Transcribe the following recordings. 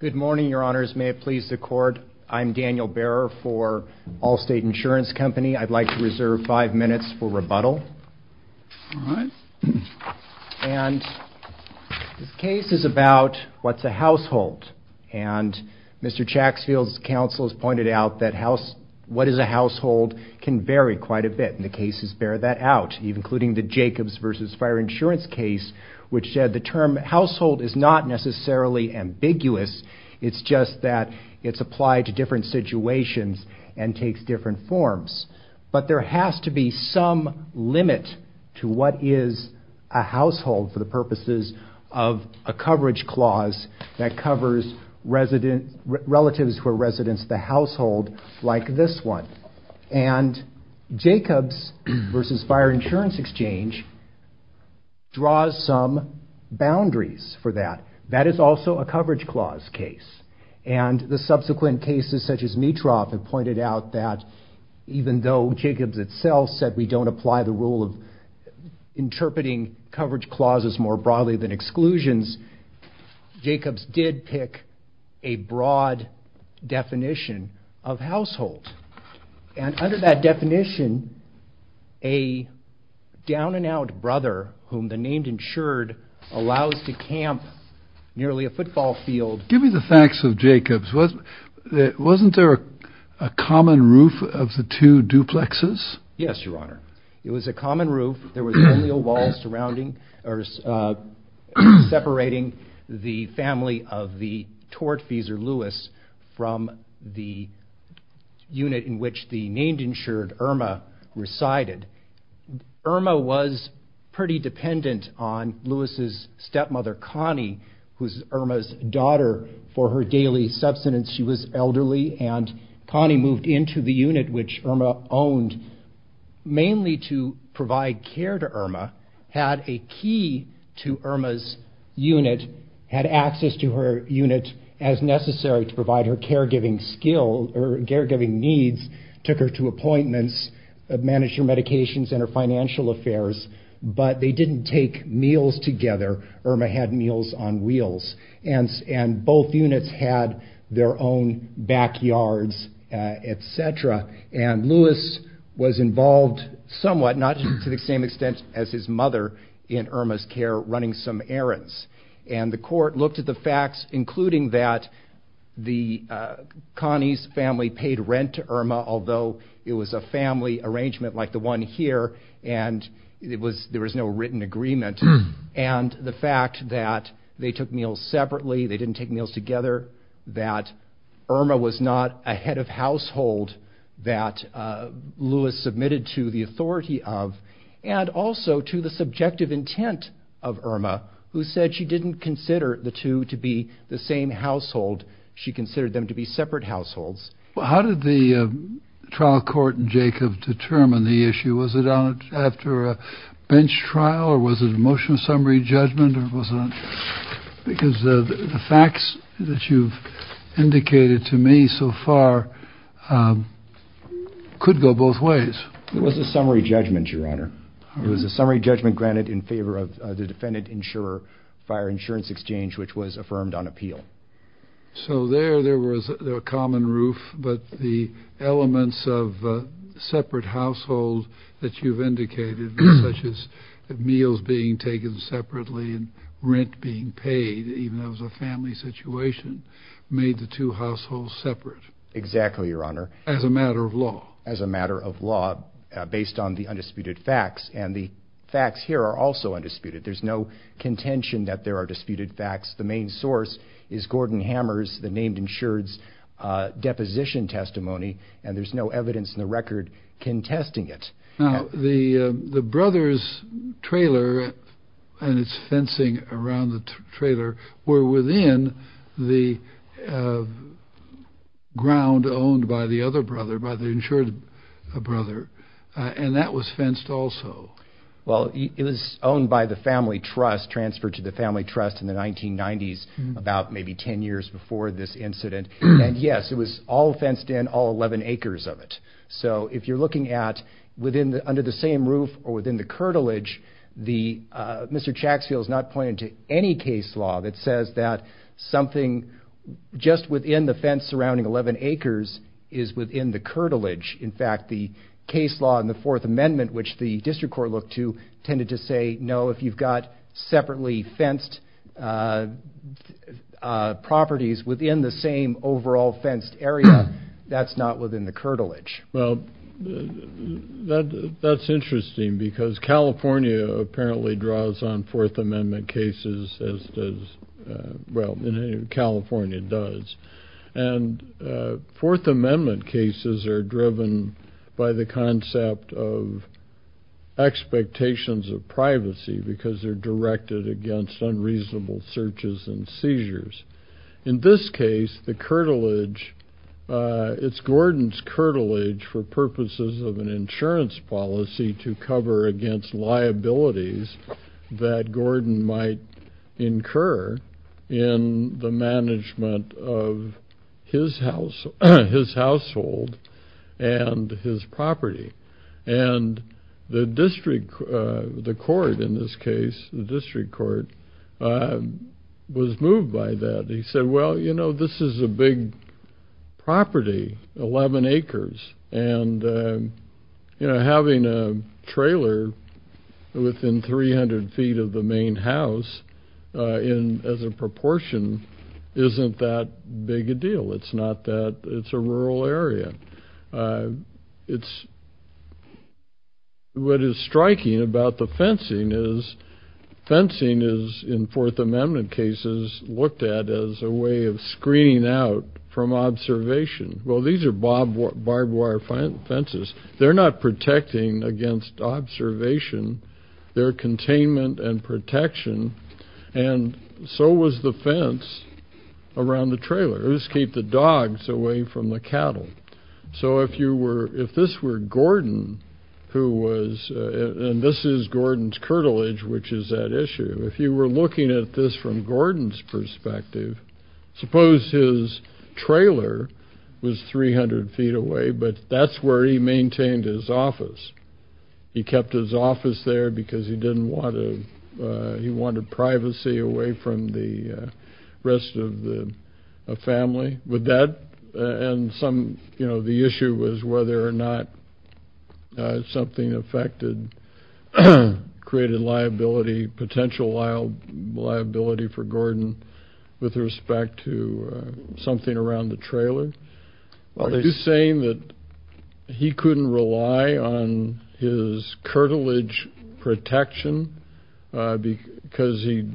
Good morning, your honors. May it please the court, I'm Daniel Behrer for Allstate Insurance Company. I'd like to reserve five minutes for rebuttal, and this case is about what's a household, and Mr. Chacksfield's counsel has pointed out that what is a household can vary quite a bit, and the cases bear that out, including the Jacobs v. Fire Insurance case, which had the term household is not necessarily ambiguous, it's just that it's applied to different situations and takes different forms. But there has to be some limit to what is a household for the purposes of a coverage clause that covers relatives who are residents of the household, like this one. And Jacobs v. Fire Insurance Exchange draws some boundaries for that. That is also a coverage clause case, and the subsequent cases such as Mitroff have pointed out that even though Jacobs itself said we don't apply the rule of interpreting coverage clauses more broadly than exclusions, Jacobs did pick a broad definition of household. And under that definition, a down-and-out brother whom the name ensured allows to camp nearly a football field. Give me the facts of Jacobs. Wasn't there a common roof of the two duplexes? substance. She was elderly, and Connie moved into the unit which Irma owned mainly to provide care to Irma, had a key to Irma's unit, had access to her unit as necessary to provide her caregiving needs, took her to appointments, managed her medications and her financial affairs, but they didn't take meals together. Irma had meals on wheels, and both units had their own backyards, etc. And Louis was involved somewhat, not to the same extent as his mother, in Irma's care running some errands. And the court looked at the facts, including that Connie's family paid rent to Irma, although it was a family arrangement like the one here, and there was no written agreement, and the fact that they took meals separately, they didn't take meals together, that Irma was not a head of household that Louis submitted to the authority of, and also to the subjective intent of Irma, who said she didn't consider the two to be the same household, she considered them to be separate households. How did the trial court in Jacob determine the issue? Was it after a bench trial, or was it a motion of summary judgment? Because the facts that you've indicated to me so far could go both ways. It was a summary judgment, Your Honor. It was a summary judgment granted in favor of the defendant-insurer fire insurance exchange, which was affirmed on appeal. So there, there was a common roof, but the elements of separate households that you've indicated, such as meals being taken separately and rent being paid, even though it was a family situation, made the two households separate. Exactly, Your Honor. As a matter of law. As a matter of law, based on the undisputed facts, and the facts here are also undisputed. There's no contention that there are disputed facts. The main source is Gordon Hammer's, the named insured's, deposition testimony, and there's no evidence in the record contesting it. Now, the brother's trailer and its fencing around the trailer were within the ground owned by the other brother, by the insured brother, and that was fenced also. Well, it was owned by the family trust, transferred to the family trust in the 1990s, about maybe 10 years before this incident, and yes, it was all fenced in, all 11 acres of it. So, if you're looking at, under the same roof or within the curtilage, Mr. Chaxfield's not pointed to any case law that says that something just within the fence surrounding 11 acres is within the curtilage. Well, that's interesting because California apparently draws on Fourth Amendment cases as does, well, California does, and Fourth Amendment cases are driven by the concept of expectations of privacy because they're directed against unreasonable searches and seizures. In this case, the curtilage, it's Gordon's curtilage for purposes of an insurance policy to cover against liabilities that Gordon might incur in the management of his household and his property. And the district, the court in this case, the district court was moved by that. He said, well, you know, this is a big property, 11 acres, and having a trailer within 300 feet of the main house as a proportion isn't that big a deal. It's not that, it's a rural area. It's, what is striking about the fencing is fencing is, in Fourth Amendment cases, looked at as a way of screening out from observation. Well, these are barbed wire fences. They're not protecting against observation. They're containment and protection. And so was the fence around the trailer. It was to keep the dogs away from the cattle. So if you were, if this were Gordon who was, and this is Gordon's curtilage, which is at issue, if you were looking at this from Gordon's perspective, suppose his trailer was 300 feet away, but that's where he maintained his office. He kept his office there because he didn't want to, he wanted privacy away from the rest of the family. Would that, and some, you know, the issue was whether or not something affected, created liability, potential liability for Gordon with respect to something around the trailer. Are you saying that he couldn't rely on his curtilage protection because he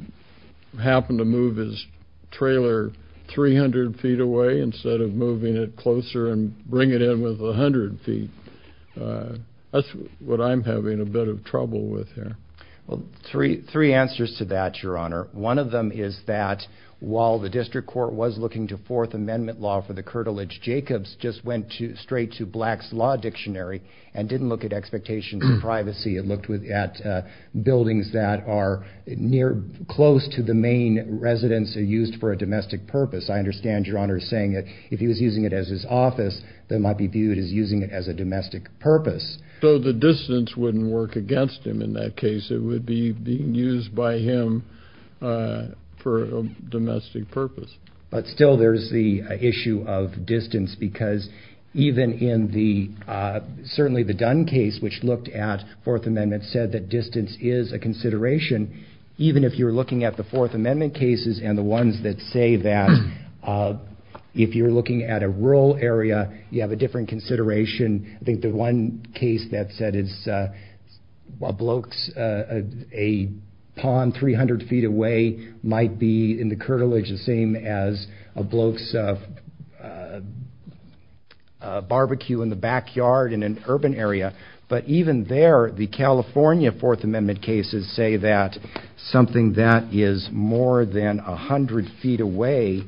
happened to move his trailer 300 feet away instead of moving it closer and bring it in with 100 feet? That's what I'm having a bit of trouble with here. Well, three answers to that, Your Honor. One of them is that while the district court was looking to Fourth Amendment law for the curtilage, Jacobs just went straight to Black's Law Dictionary and didn't look at expectations of privacy. It looked at buildings that are near, close to the main residence used for a domestic purpose. I understand, Your Honor, saying that if he was using it as his office, that might be viewed as using it as a domestic purpose. So the distance wouldn't work against him in that case. It would be being used by him for a domestic purpose. But still there's the issue of distance because even in the, certainly the Dunn case, which looked at Fourth Amendment, said that distance is a consideration. Even if you're looking at the Fourth Amendment cases and the ones that say that if you're looking at a rural area, you have a different consideration. I think the one case that said a pond 300 feet away might be in the curtilage the same as a bloke's barbecue in the backyard in an urban area. But even there, the California Fourth Amendment cases say that something that is more than 100 feet away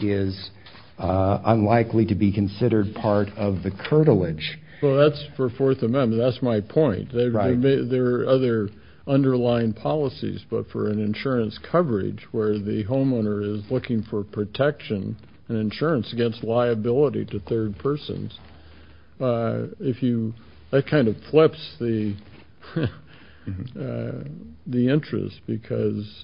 is unlikely to be considered part of the curtilage. Well, that's for Fourth Amendment. That's my point. There are other underlying policies, but for an insurance coverage where the homeowner is looking for protection and insurance against liability to third persons, that kind of flips the interest because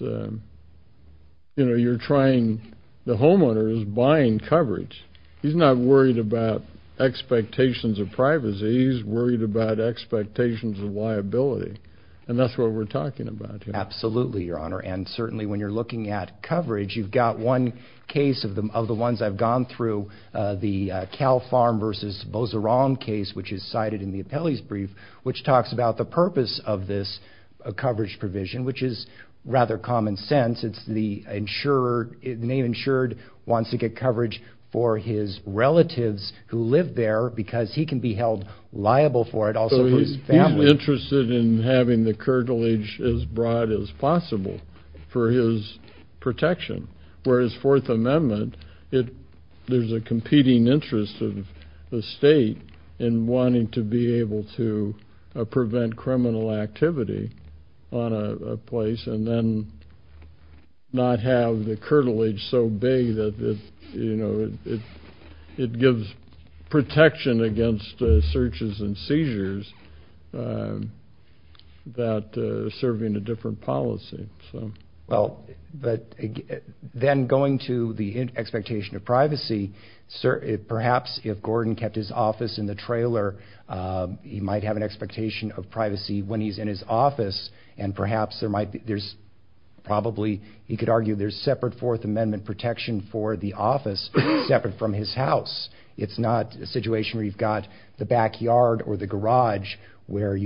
the homeowner is buying coverage. He's not worried about expectations of privacy. He's worried about expectations of liability. And that's what we're talking about here. And certainly when you're looking at coverage, you've got one case of the ones I've gone through, the Cal Farm versus Bozeron case, which is cited in the appellee's brief, which talks about the purpose of this coverage provision, which is rather common sense. It's the insurer, the name insured, wants to get coverage for his relatives who live there because he can be held liable for it, also for his family. He's not interested in having the curtilage as broad as possible for his protection. Whereas Fourth Amendment, there's a competing interest of the state in wanting to be able to prevent criminal activity on a place and then not have the curtilage so big that it gives protection against searches and seizures that are serving a different policy. Well, but then going to the expectation of privacy, perhaps if Gordon kept his office in the trailer, he might have an expectation of privacy when he's in his office, and perhaps there might be, there's probably, he could argue there's separate Fourth Amendment protection for the office separate from his house. It's not a situation where you've got the backyard or the garage where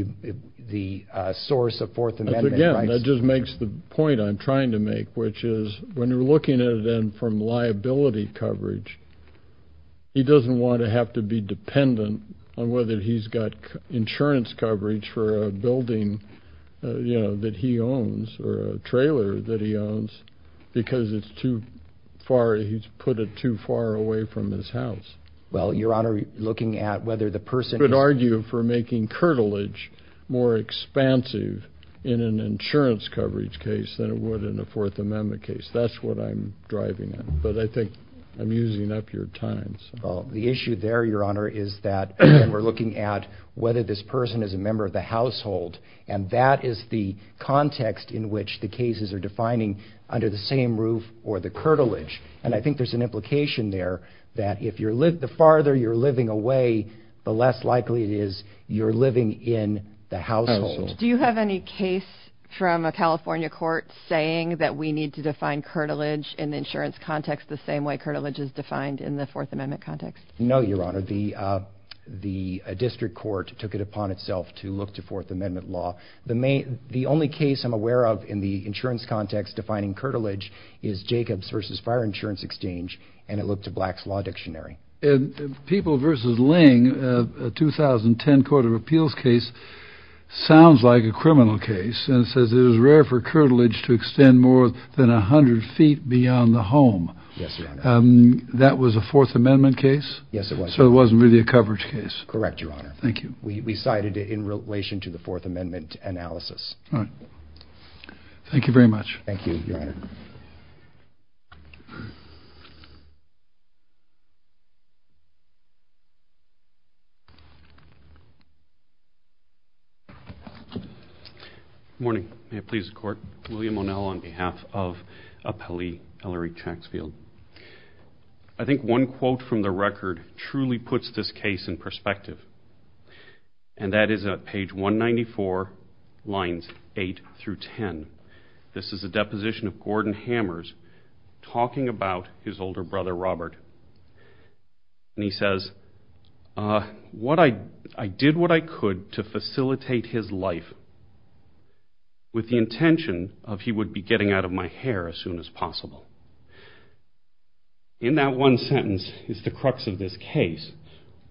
the source of Fourth Amendment rights. Again, that just makes the point I'm trying to make, which is when you're looking at it from liability coverage, he doesn't want to have to be dependent on whether he's got insurance coverage for a building, you know, that he owns or a trailer that he owns because it's too far, he's put it too far away from his house. Well, Your Honor, looking at whether the person... You could argue for making curtilage more expansive in an insurance coverage case than it would in a Fourth Amendment case. That's what I'm driving at, but I think I'm using up your time. Well, the issue there, Your Honor, is that we're looking at whether this person is a member of the household, and that is the context in which the cases are defining under the same roof or the curtilage, and I think there's an implication there that the farther you're living away, the less likely it is you're living in the household. Do you have any case from a California court saying that we need to define curtilage in the insurance context the same way curtilage is defined in the Fourth Amendment context? No, Your Honor. The district court took it upon itself to look to Fourth Amendment law. The only case I'm aware of in the insurance context defining curtilage is Jacobs v. Fire Insurance Exchange, and it looked to Black's Law Dictionary. And People v. Ling, a 2010 court of appeals case, sounds like a criminal case and says it is rare for curtilage to extend more than 100 feet beyond the home. Yes, Your Honor. That was a Fourth Amendment case? Yes, it was. So it wasn't really a coverage case? Correct, Your Honor. Thank you. We cited it in relation to the Fourth Amendment analysis. All right. Thank you very much. Thank you, Your Honor. Good morning. May it please the Court. William O'Neill on behalf of Appellee Ellery Chaxfield. I think one quote from the record truly puts this case in perspective, and that is at page 194, lines 8 through 10. This is a deposition of Gordon Hammers talking about his older brother, Robert. And he says, I did what I could to facilitate his life with the intention of he would be getting out of my hair as soon as possible. In that one sentence is the crux of this case,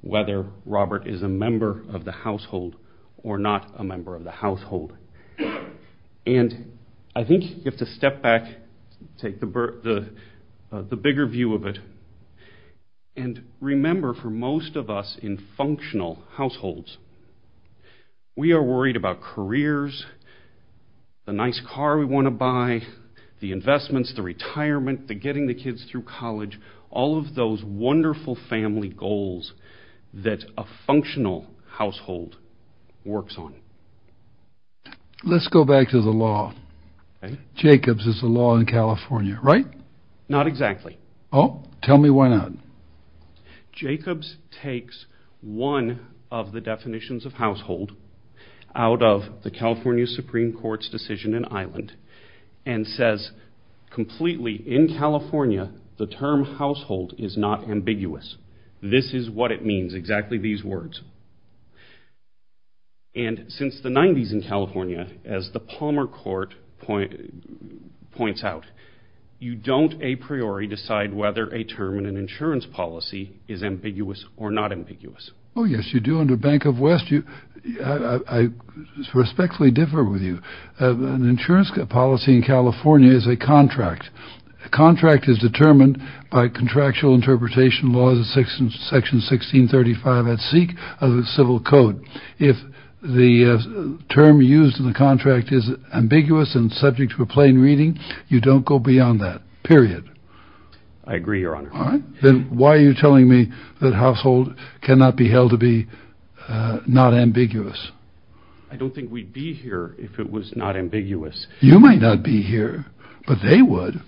whether Robert is a member of the household or not a member of the household. And I think you have to step back, take the bigger view of it, and remember for most of us in functional households, we are worried about careers, the nice car we want to buy, the investments, the retirement, the getting the kids through college, all of those wonderful family goals that a functional household works on. Let's go back to the law. Jacobs is the law in California, right? Not exactly. Tell me why not. Jacobs takes one of the definitions of household out of the California Supreme Court's decision in Ireland and says completely in California, the term household is not ambiguous. This is what it means. Exactly these words. And since the 90s in California, as the Palmer court point points out, you don't a priori decide whether a term in an insurance policy is ambiguous or not ambiguous. Oh, yes, you do. Under Bank of West, I respectfully differ with you. An insurance policy in California is a contract. A contract is determined by contractual interpretation laws of section 1635 at seek of the civil code. If the term used in the contract is ambiguous and subject to a plain reading, you don't go beyond that, period. I agree, Your Honor. All right. Then why are you telling me that household cannot be held to be not ambiguous? I don't think we'd be here if it was not ambiguous. You might not be here, but they would.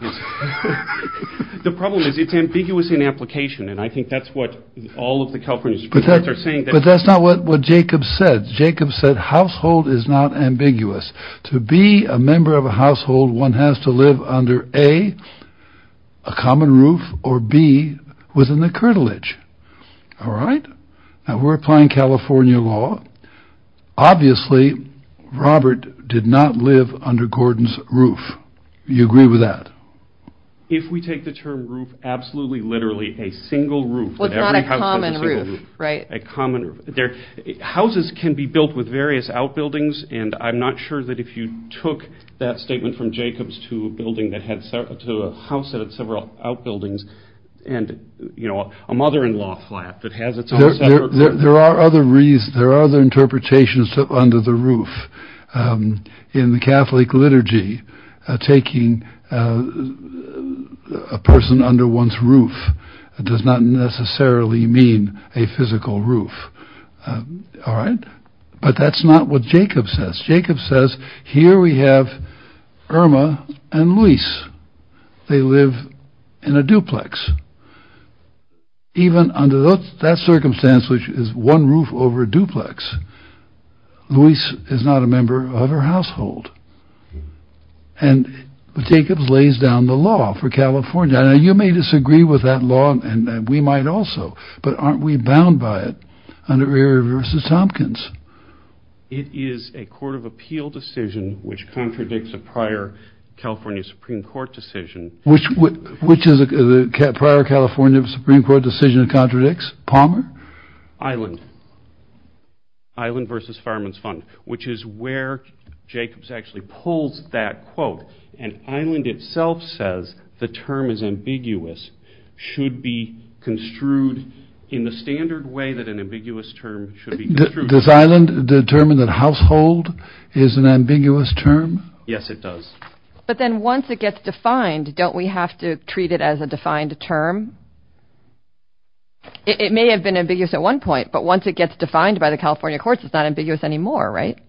The problem is it's ambiguous in application. And I think that's what all of the companies are saying. But that's not what Jacob said. Jacob said household is not ambiguous to be a member of a household. One has to live under a common roof or be within the cartilage. All right. Now, we're applying California law. Obviously, Robert did not live under Gordon's roof. Do you agree with that? If we take the term roof, absolutely, literally a single roof. Well, it's not a common roof, right? A common roof. Houses can be built with various outbuildings. And I'm not sure that if you took that statement from Jacob's to a house that had several outbuildings and, you know, a mother-in-law flat that has its own roof. There are other reasons. There are other interpretations under the roof in the Catholic liturgy. Taking a person under one's roof does not necessarily mean a physical roof. All right. But that's not what Jacob says. Jacob says here we have Irma and Luis. They live in a duplex. Even under that circumstance, which is one roof over duplex. Luis is not a member of her household. And Jacob lays down the law for California. Now, you may disagree with that law and we might also. But aren't we bound by it? And it reverses Tompkins. It is a court of appeal decision which contradicts a prior California Supreme Court decision. Which which is a prior California Supreme Court decision contradicts Palmer Island. Island versus Fireman's Fund, which is where Jacobs actually pulls that quote. And Island itself says the term is ambiguous. Should be construed in the standard way that an ambiguous term should be. This island determined that household is an ambiguous term. Yes, it does. But then once it gets defined, don't we have to treat it as a defined term? It may have been ambiguous at one point, but once it gets defined by the California courts, it's not ambiguous anymore. Right.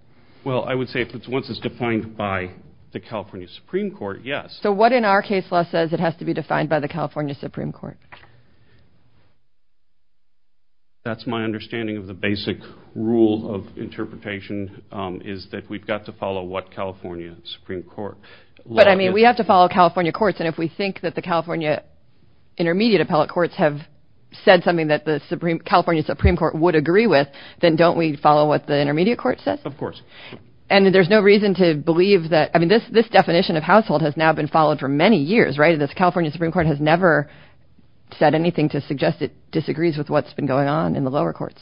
Well, I would say it's once it's defined by the California Supreme Court. Yes. So what in our case law says it has to be defined by the California Supreme Court? That's my understanding of the basic rule of interpretation is that we've got to follow what California Supreme Court. But I mean, we have to follow California courts. And if we think that the California intermediate appellate courts have said something that the Supreme California Supreme Court would agree with. Then don't we follow what the intermediate court says? Of course. And there's no reason to believe that. I mean, this this definition of household has now been followed for many years. Right. This California Supreme Court has never said anything to suggest it disagrees with what's been going on in the lower courts.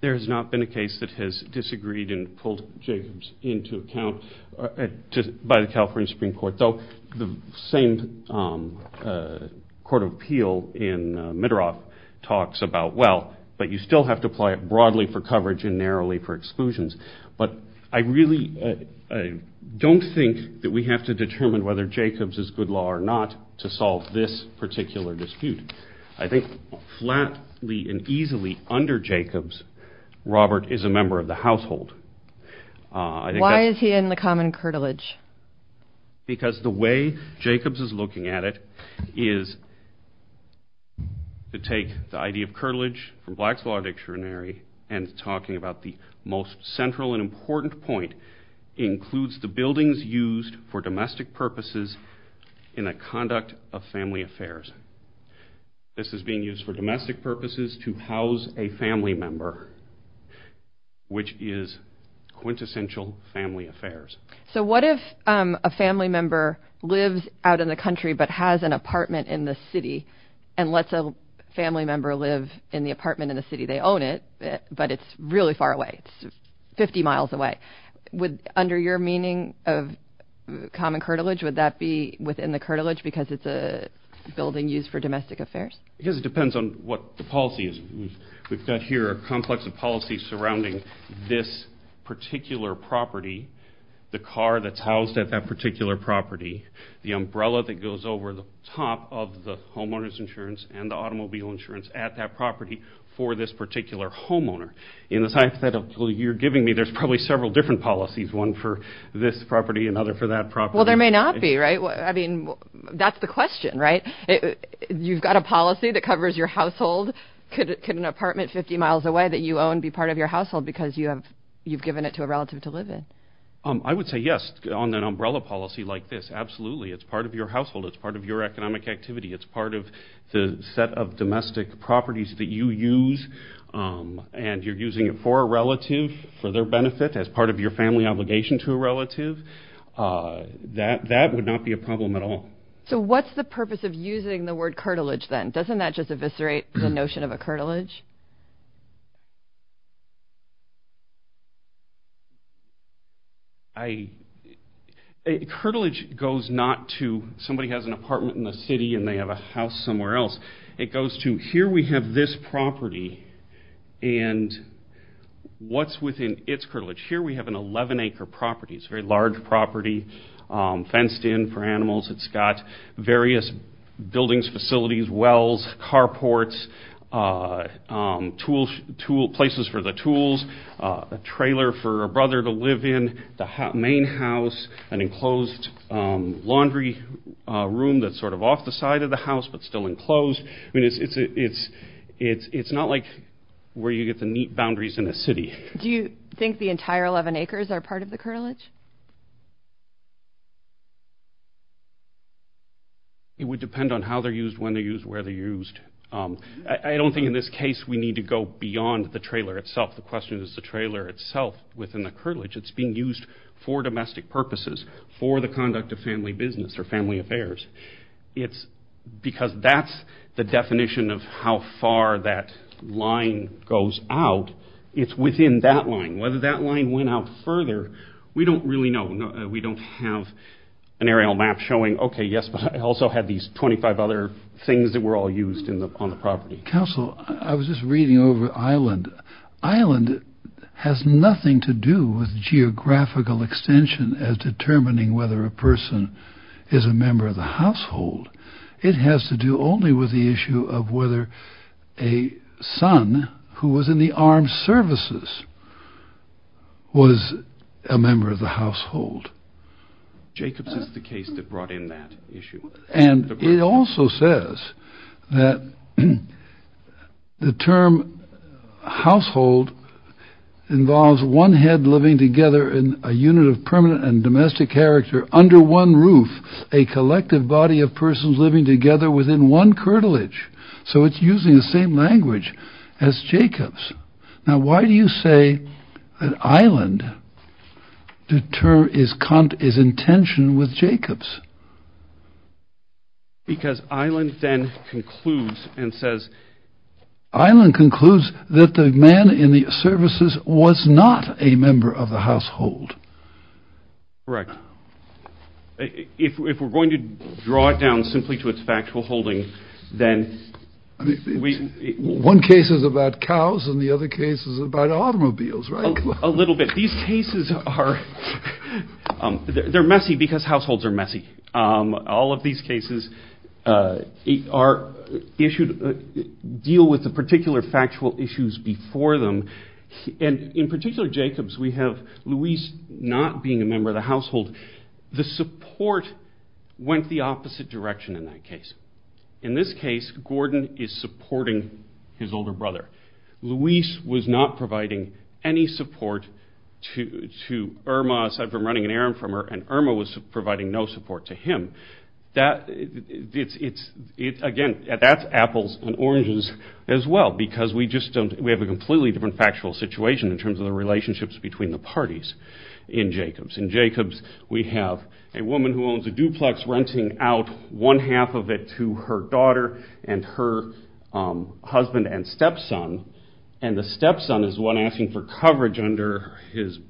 There has not been a case that has disagreed and pulled Jacobs into account by the California Supreme Court, though the same court of appeal in Mitterrand talks about, well, but you still have to apply it broadly for coverage and narrowly for exclusions. But I really don't think that we have to determine whether Jacobs is good law or not to solve this particular dispute. I think flatly and easily under Jacobs, Robert is a member of the household. Why is he in the common curtilage? Because the way Jacobs is looking at it is. To take the idea of curtilage from Black's Law Dictionary and talking about the most central and important point, includes the buildings used for domestic purposes in the conduct of family affairs. This is being used for domestic purposes to house a family member, which is quintessential family affairs. So what if a family member lives out in the country but has an apartment in the city and lets a family member live in the apartment in the city? They own it, but it's really far away. It's 50 miles away. Under your meaning of common curtilage, would that be within the curtilage because it's a building used for domestic affairs? Because it depends on what the policy is. We've got here a complex of policies surrounding this particular property, the car that's housed at that particular property, the umbrella that goes over the top of the homeowner's insurance and the automobile insurance at that property for this particular homeowner. In the time that you're giving me, there's probably several different policies, one for this property, another for that property. Well, there may not be, right? That's the question, right? You've got a policy that covers your household. Could an apartment 50 miles away that you own be part of your household because you've given it to a relative to live in? I would say yes on an umbrella policy like this, absolutely. It's part of your household. It's part of your economic activity. It's part of the set of domestic properties that you use, and you're using it for a relative, for their benefit, as part of your family obligation to a relative. That would not be a problem at all. What's the purpose of using the word curtilage then? Doesn't that just eviscerate the notion of a curtilage? A curtilage goes not to somebody has an apartment in the city and they have a house somewhere else. It goes to here we have this property, and what's within its curtilage? Here we have an 11-acre property. It's a very large property, fenced in for animals. It's got various buildings, facilities, wells, carports, places for the tools, a trailer for a brother to live in, the main house, an enclosed laundry room that's sort of off the side of the house but still enclosed. It's not like where you get the neat boundaries in a city. Do you think the entire 11 acres are part of the curtilage? It would depend on how they're used, when they're used, where they're used. I don't think in this case we need to go beyond the trailer itself. The question is the trailer itself within the curtilage. It's being used for domestic purposes, for the conduct of family business or family affairs. Because that's the definition of how far that line goes out, it's within that line. Whether that line went out further, we don't really know. We don't have an aerial map showing, okay, yes, but it also had these 25 other things that were all used on the property. Counsel, I was just reading over Island. Island has nothing to do with geographical extension as determining whether a person is a member of the household. It has to do only with the issue of whether a son who was in the armed services was a member of the household. Jacobs is the case that brought in that issue. And it also says that the term household involves one head living together in a unit of permanent and domestic character under one roof, a collective body of persons living together within one curtilage. So it's using the same language as Jacobs. Now, why do you say that Island deter is content is intention with Jacobs? Because Island then concludes and says Island concludes that the man in the services was not a member of the household. Correct. If we're going to draw it down simply to its factual holding, then we. One case is about cows and the other case is about automobiles, right? A little bit. These cases are they're messy because households are messy. All of these cases are issued deal with the particular factual issues before them. And in particular, Jacobs, we have Louise not being a member of the household. The support went the opposite direction in that case. In this case, Gordon is supporting his older brother. Louise was not providing any support to Irma aside from running an errand for her and Irma was providing no support to him. Again, that's apples and oranges as well because we have a completely different factual situation in terms of the relationships between the parties in Jacobs. In Jacobs, we have a woman who owns a duplex renting out one half of it to her daughter and her husband and stepson. And the stepson is the one asking for coverage under his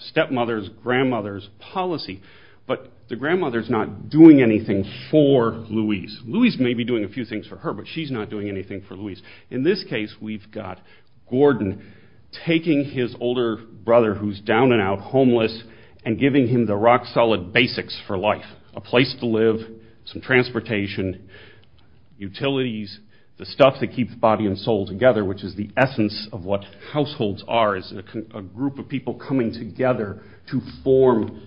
stepmother's grandmother's policy. But the grandmother is not doing anything for Louise. Louise may be doing a few things for her, but she's not doing anything for Louise. In this case, we've got Gordon taking his older brother who's down and out, homeless, and giving him the rock solid basics for life. A place to live, some transportation, utilities, the stuff that keeps body and soul together, which is the essence of what households are. It's a group of people coming together to form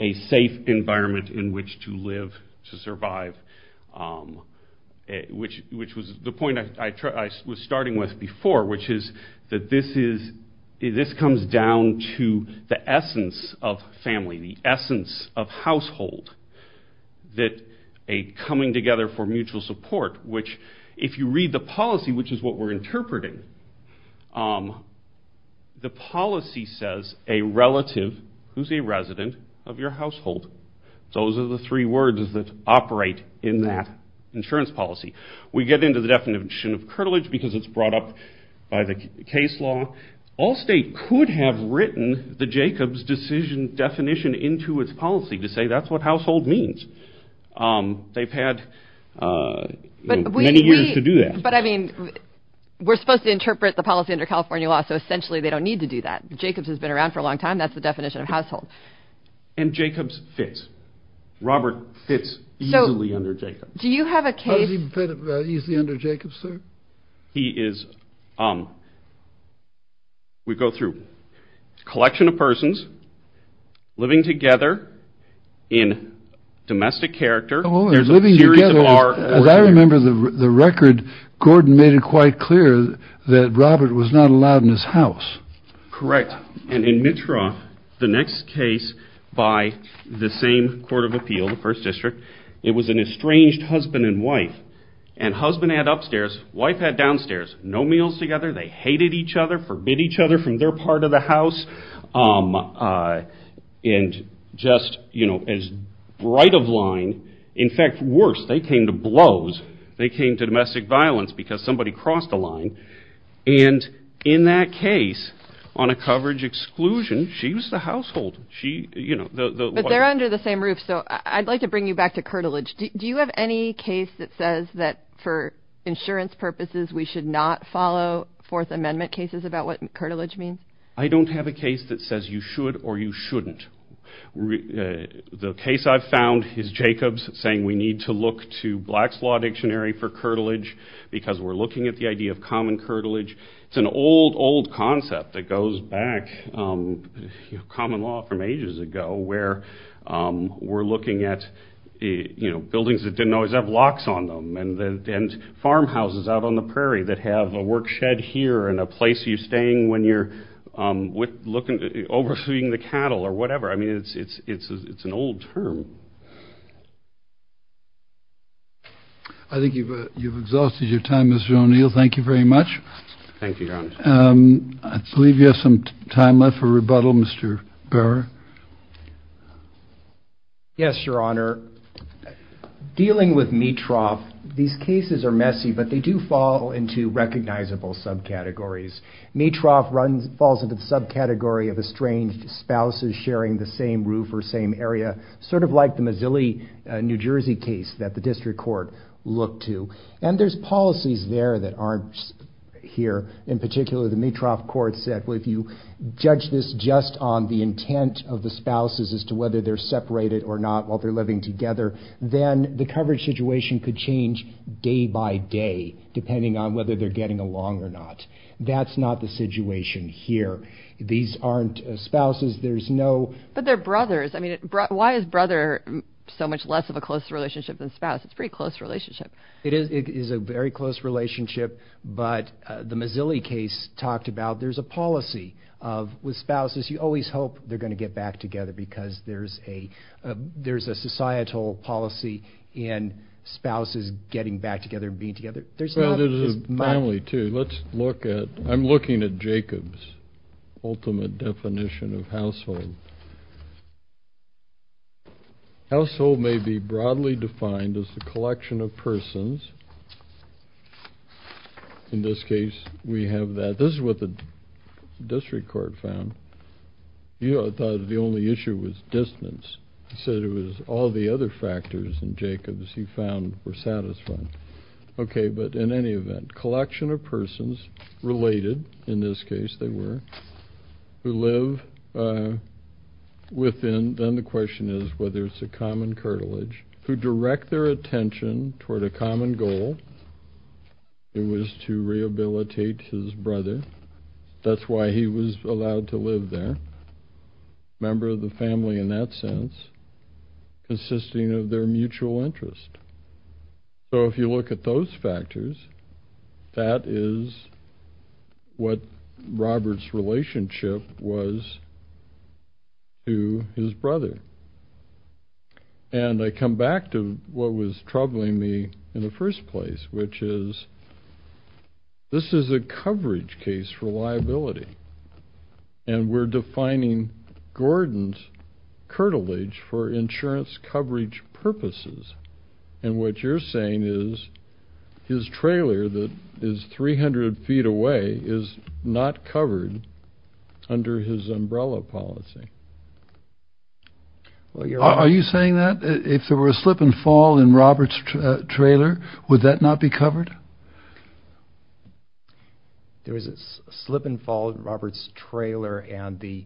a safe environment in which to live, to survive. The point I was starting with before, which is that this comes down to the essence of family, the essence of household. A coming together for mutual support, which if you read the policy, which is what we're interpreting, the policy says a relative who's a resident of your household. Those are the three words that operate in that insurance policy. We get into the definition of curtilage because it's brought up by the case law. Allstate could have written the Jacobs decision definition into its policy to say that's what household means. They've had many years to do that. But I mean, we're supposed to interpret the policy under California law, so essentially they don't need to do that. Jacobs has been around for a long time. That's the definition of household. And Jacobs fits. Robert fits easily under Jacobs. Do you have a case? How does he fit easily under Jacobs, sir? He is, we go through a collection of persons living together in domestic character. As I remember the record, Gordon made it quite clear that Robert was not allowed in his house. Correct. And in Mitra, the next case by the same court of appeal, the first district, it was an estranged husband and wife. And husband had upstairs, wife had downstairs. No meals together, they hated each other, forbid each other from their part of the house. And just as right of line, in fact worse, they came to blows. They came to domestic violence because somebody crossed the line. And in that case, on a coverage exclusion, she was the household. But they're under the same roof, so I'd like to bring you back to curtilage. Do you have any case that says that for insurance purposes we should not follow Fourth Amendment cases about what curtilage means? I don't have a case that says you should or you shouldn't. The case I've found is Jacobs saying we need to look to Black's Law Dictionary for curtilage because we're looking at the idea of common curtilage. It's an old, old concept that goes back, common law from ages ago, where we're looking at buildings that didn't always have locks on them and farmhouses out on the prairie that have a work shed here and a place you're staying when you're overseeing the cattle or whatever. I mean, it's an old term. I think you've exhausted your time, Mr. O'Neill. Thank you very much. Thank you, Your Honor. I believe you have some time left for rebuttal, Mr. Barrow. Yes, Your Honor. Dealing with Mitroff, these cases are messy, but they do fall into recognizable subcategories. Mitroff falls into the subcategory of estranged spouses sharing the same roof or same area, sort of like the Mazzilli, New Jersey case that the district court looked to, and there's policies there that aren't here. In particular, the Mitroff court said, well, if you judge this just on the intent of the spouses as to whether they're separated or not while they're living together, then the coverage situation could change day by day depending on whether they're getting along or not. That's not the situation here. These aren't spouses. But they're brothers. I mean, why is brother so much less of a close relationship than spouse? It's a pretty close relationship. It is a very close relationship. But the Mazzilli case talked about there's a policy with spouses. You always hope they're going to get back together because there's a societal policy in spouses getting back together and being together. Well, there's a family, too. I'm looking at Jacob's ultimate definition of household. Household may be broadly defined as the collection of persons. In this case, we have that. This is what the district court found. It thought the only issue was distance. It said it was all the other factors in Jacob's he found were satisfying. Okay, but in any event, collection of persons related, in this case they were, who live within, then the question is whether it's a common cartilage, who direct their attention toward a common goal. It was to rehabilitate his brother. That's why he was allowed to live there, a member of the family in that sense, consisting of their mutual interest. So if you look at those factors, that is what Robert's relationship was to his brother. And I come back to what was troubling me in the first place, which is this is a coverage case for liability, and we're defining Gordon's cartilage for insurance coverage purposes. And what you're saying is his trailer that is 300 feet away is not covered under his umbrella policy. Are you saying that? If there were a slip and fall in Robert's trailer, would that not be covered? There was a slip and fall in Robert's trailer, and the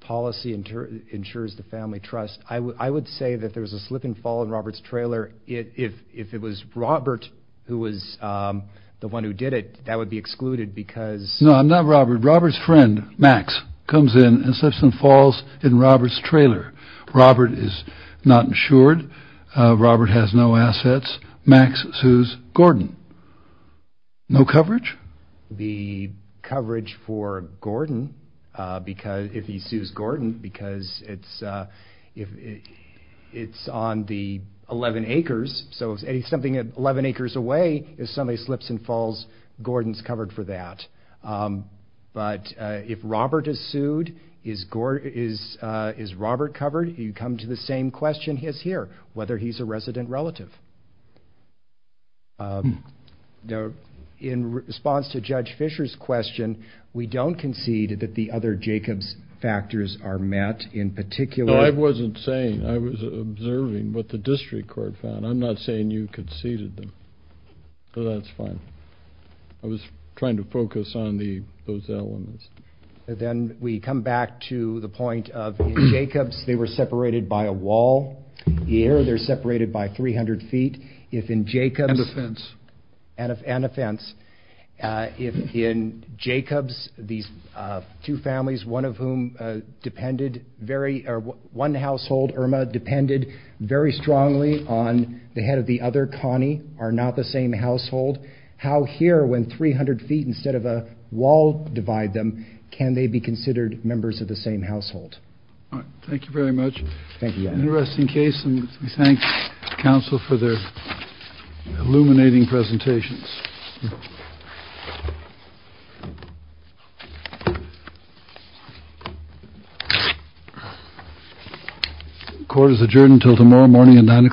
policy ensures the family trust. I would say that there was a slip and fall in Robert's trailer. If it was Robert who was the one who did it, that would be excluded because. No, not Robert. Robert's friend, Max, comes in and slips and falls in Robert's trailer. Robert is not insured. Robert has no assets. Max sues Gordon. No coverage? The coverage for Gordon, if he sues Gordon, because it's on the 11 acres, so something 11 acres away, if somebody slips and falls, Gordon's covered for that. But if Robert is sued, is Robert covered? You come to the same question as here, whether he's a resident relative. In response to Judge Fisher's question, we don't concede that the other Jacobs factors are met, in particular. No, I wasn't saying. I was observing what the district court found. I'm not saying you conceded them. So that's fine. I was trying to focus on those elements. Then we come back to the point of Jacobs. They were separated by a wall. Here, they're separated by 300 feet. And a fence. And a fence. In Jacobs, these two families, one household, Irma, depended very strongly on the head of the other, Connie, are not the same household. How here, when 300 feet instead of a wall divide them, can they be considered members of the same household? All right. Thank you very much. Thank you, Your Honor. Interesting case, and we thank counsel for their illuminating presentations.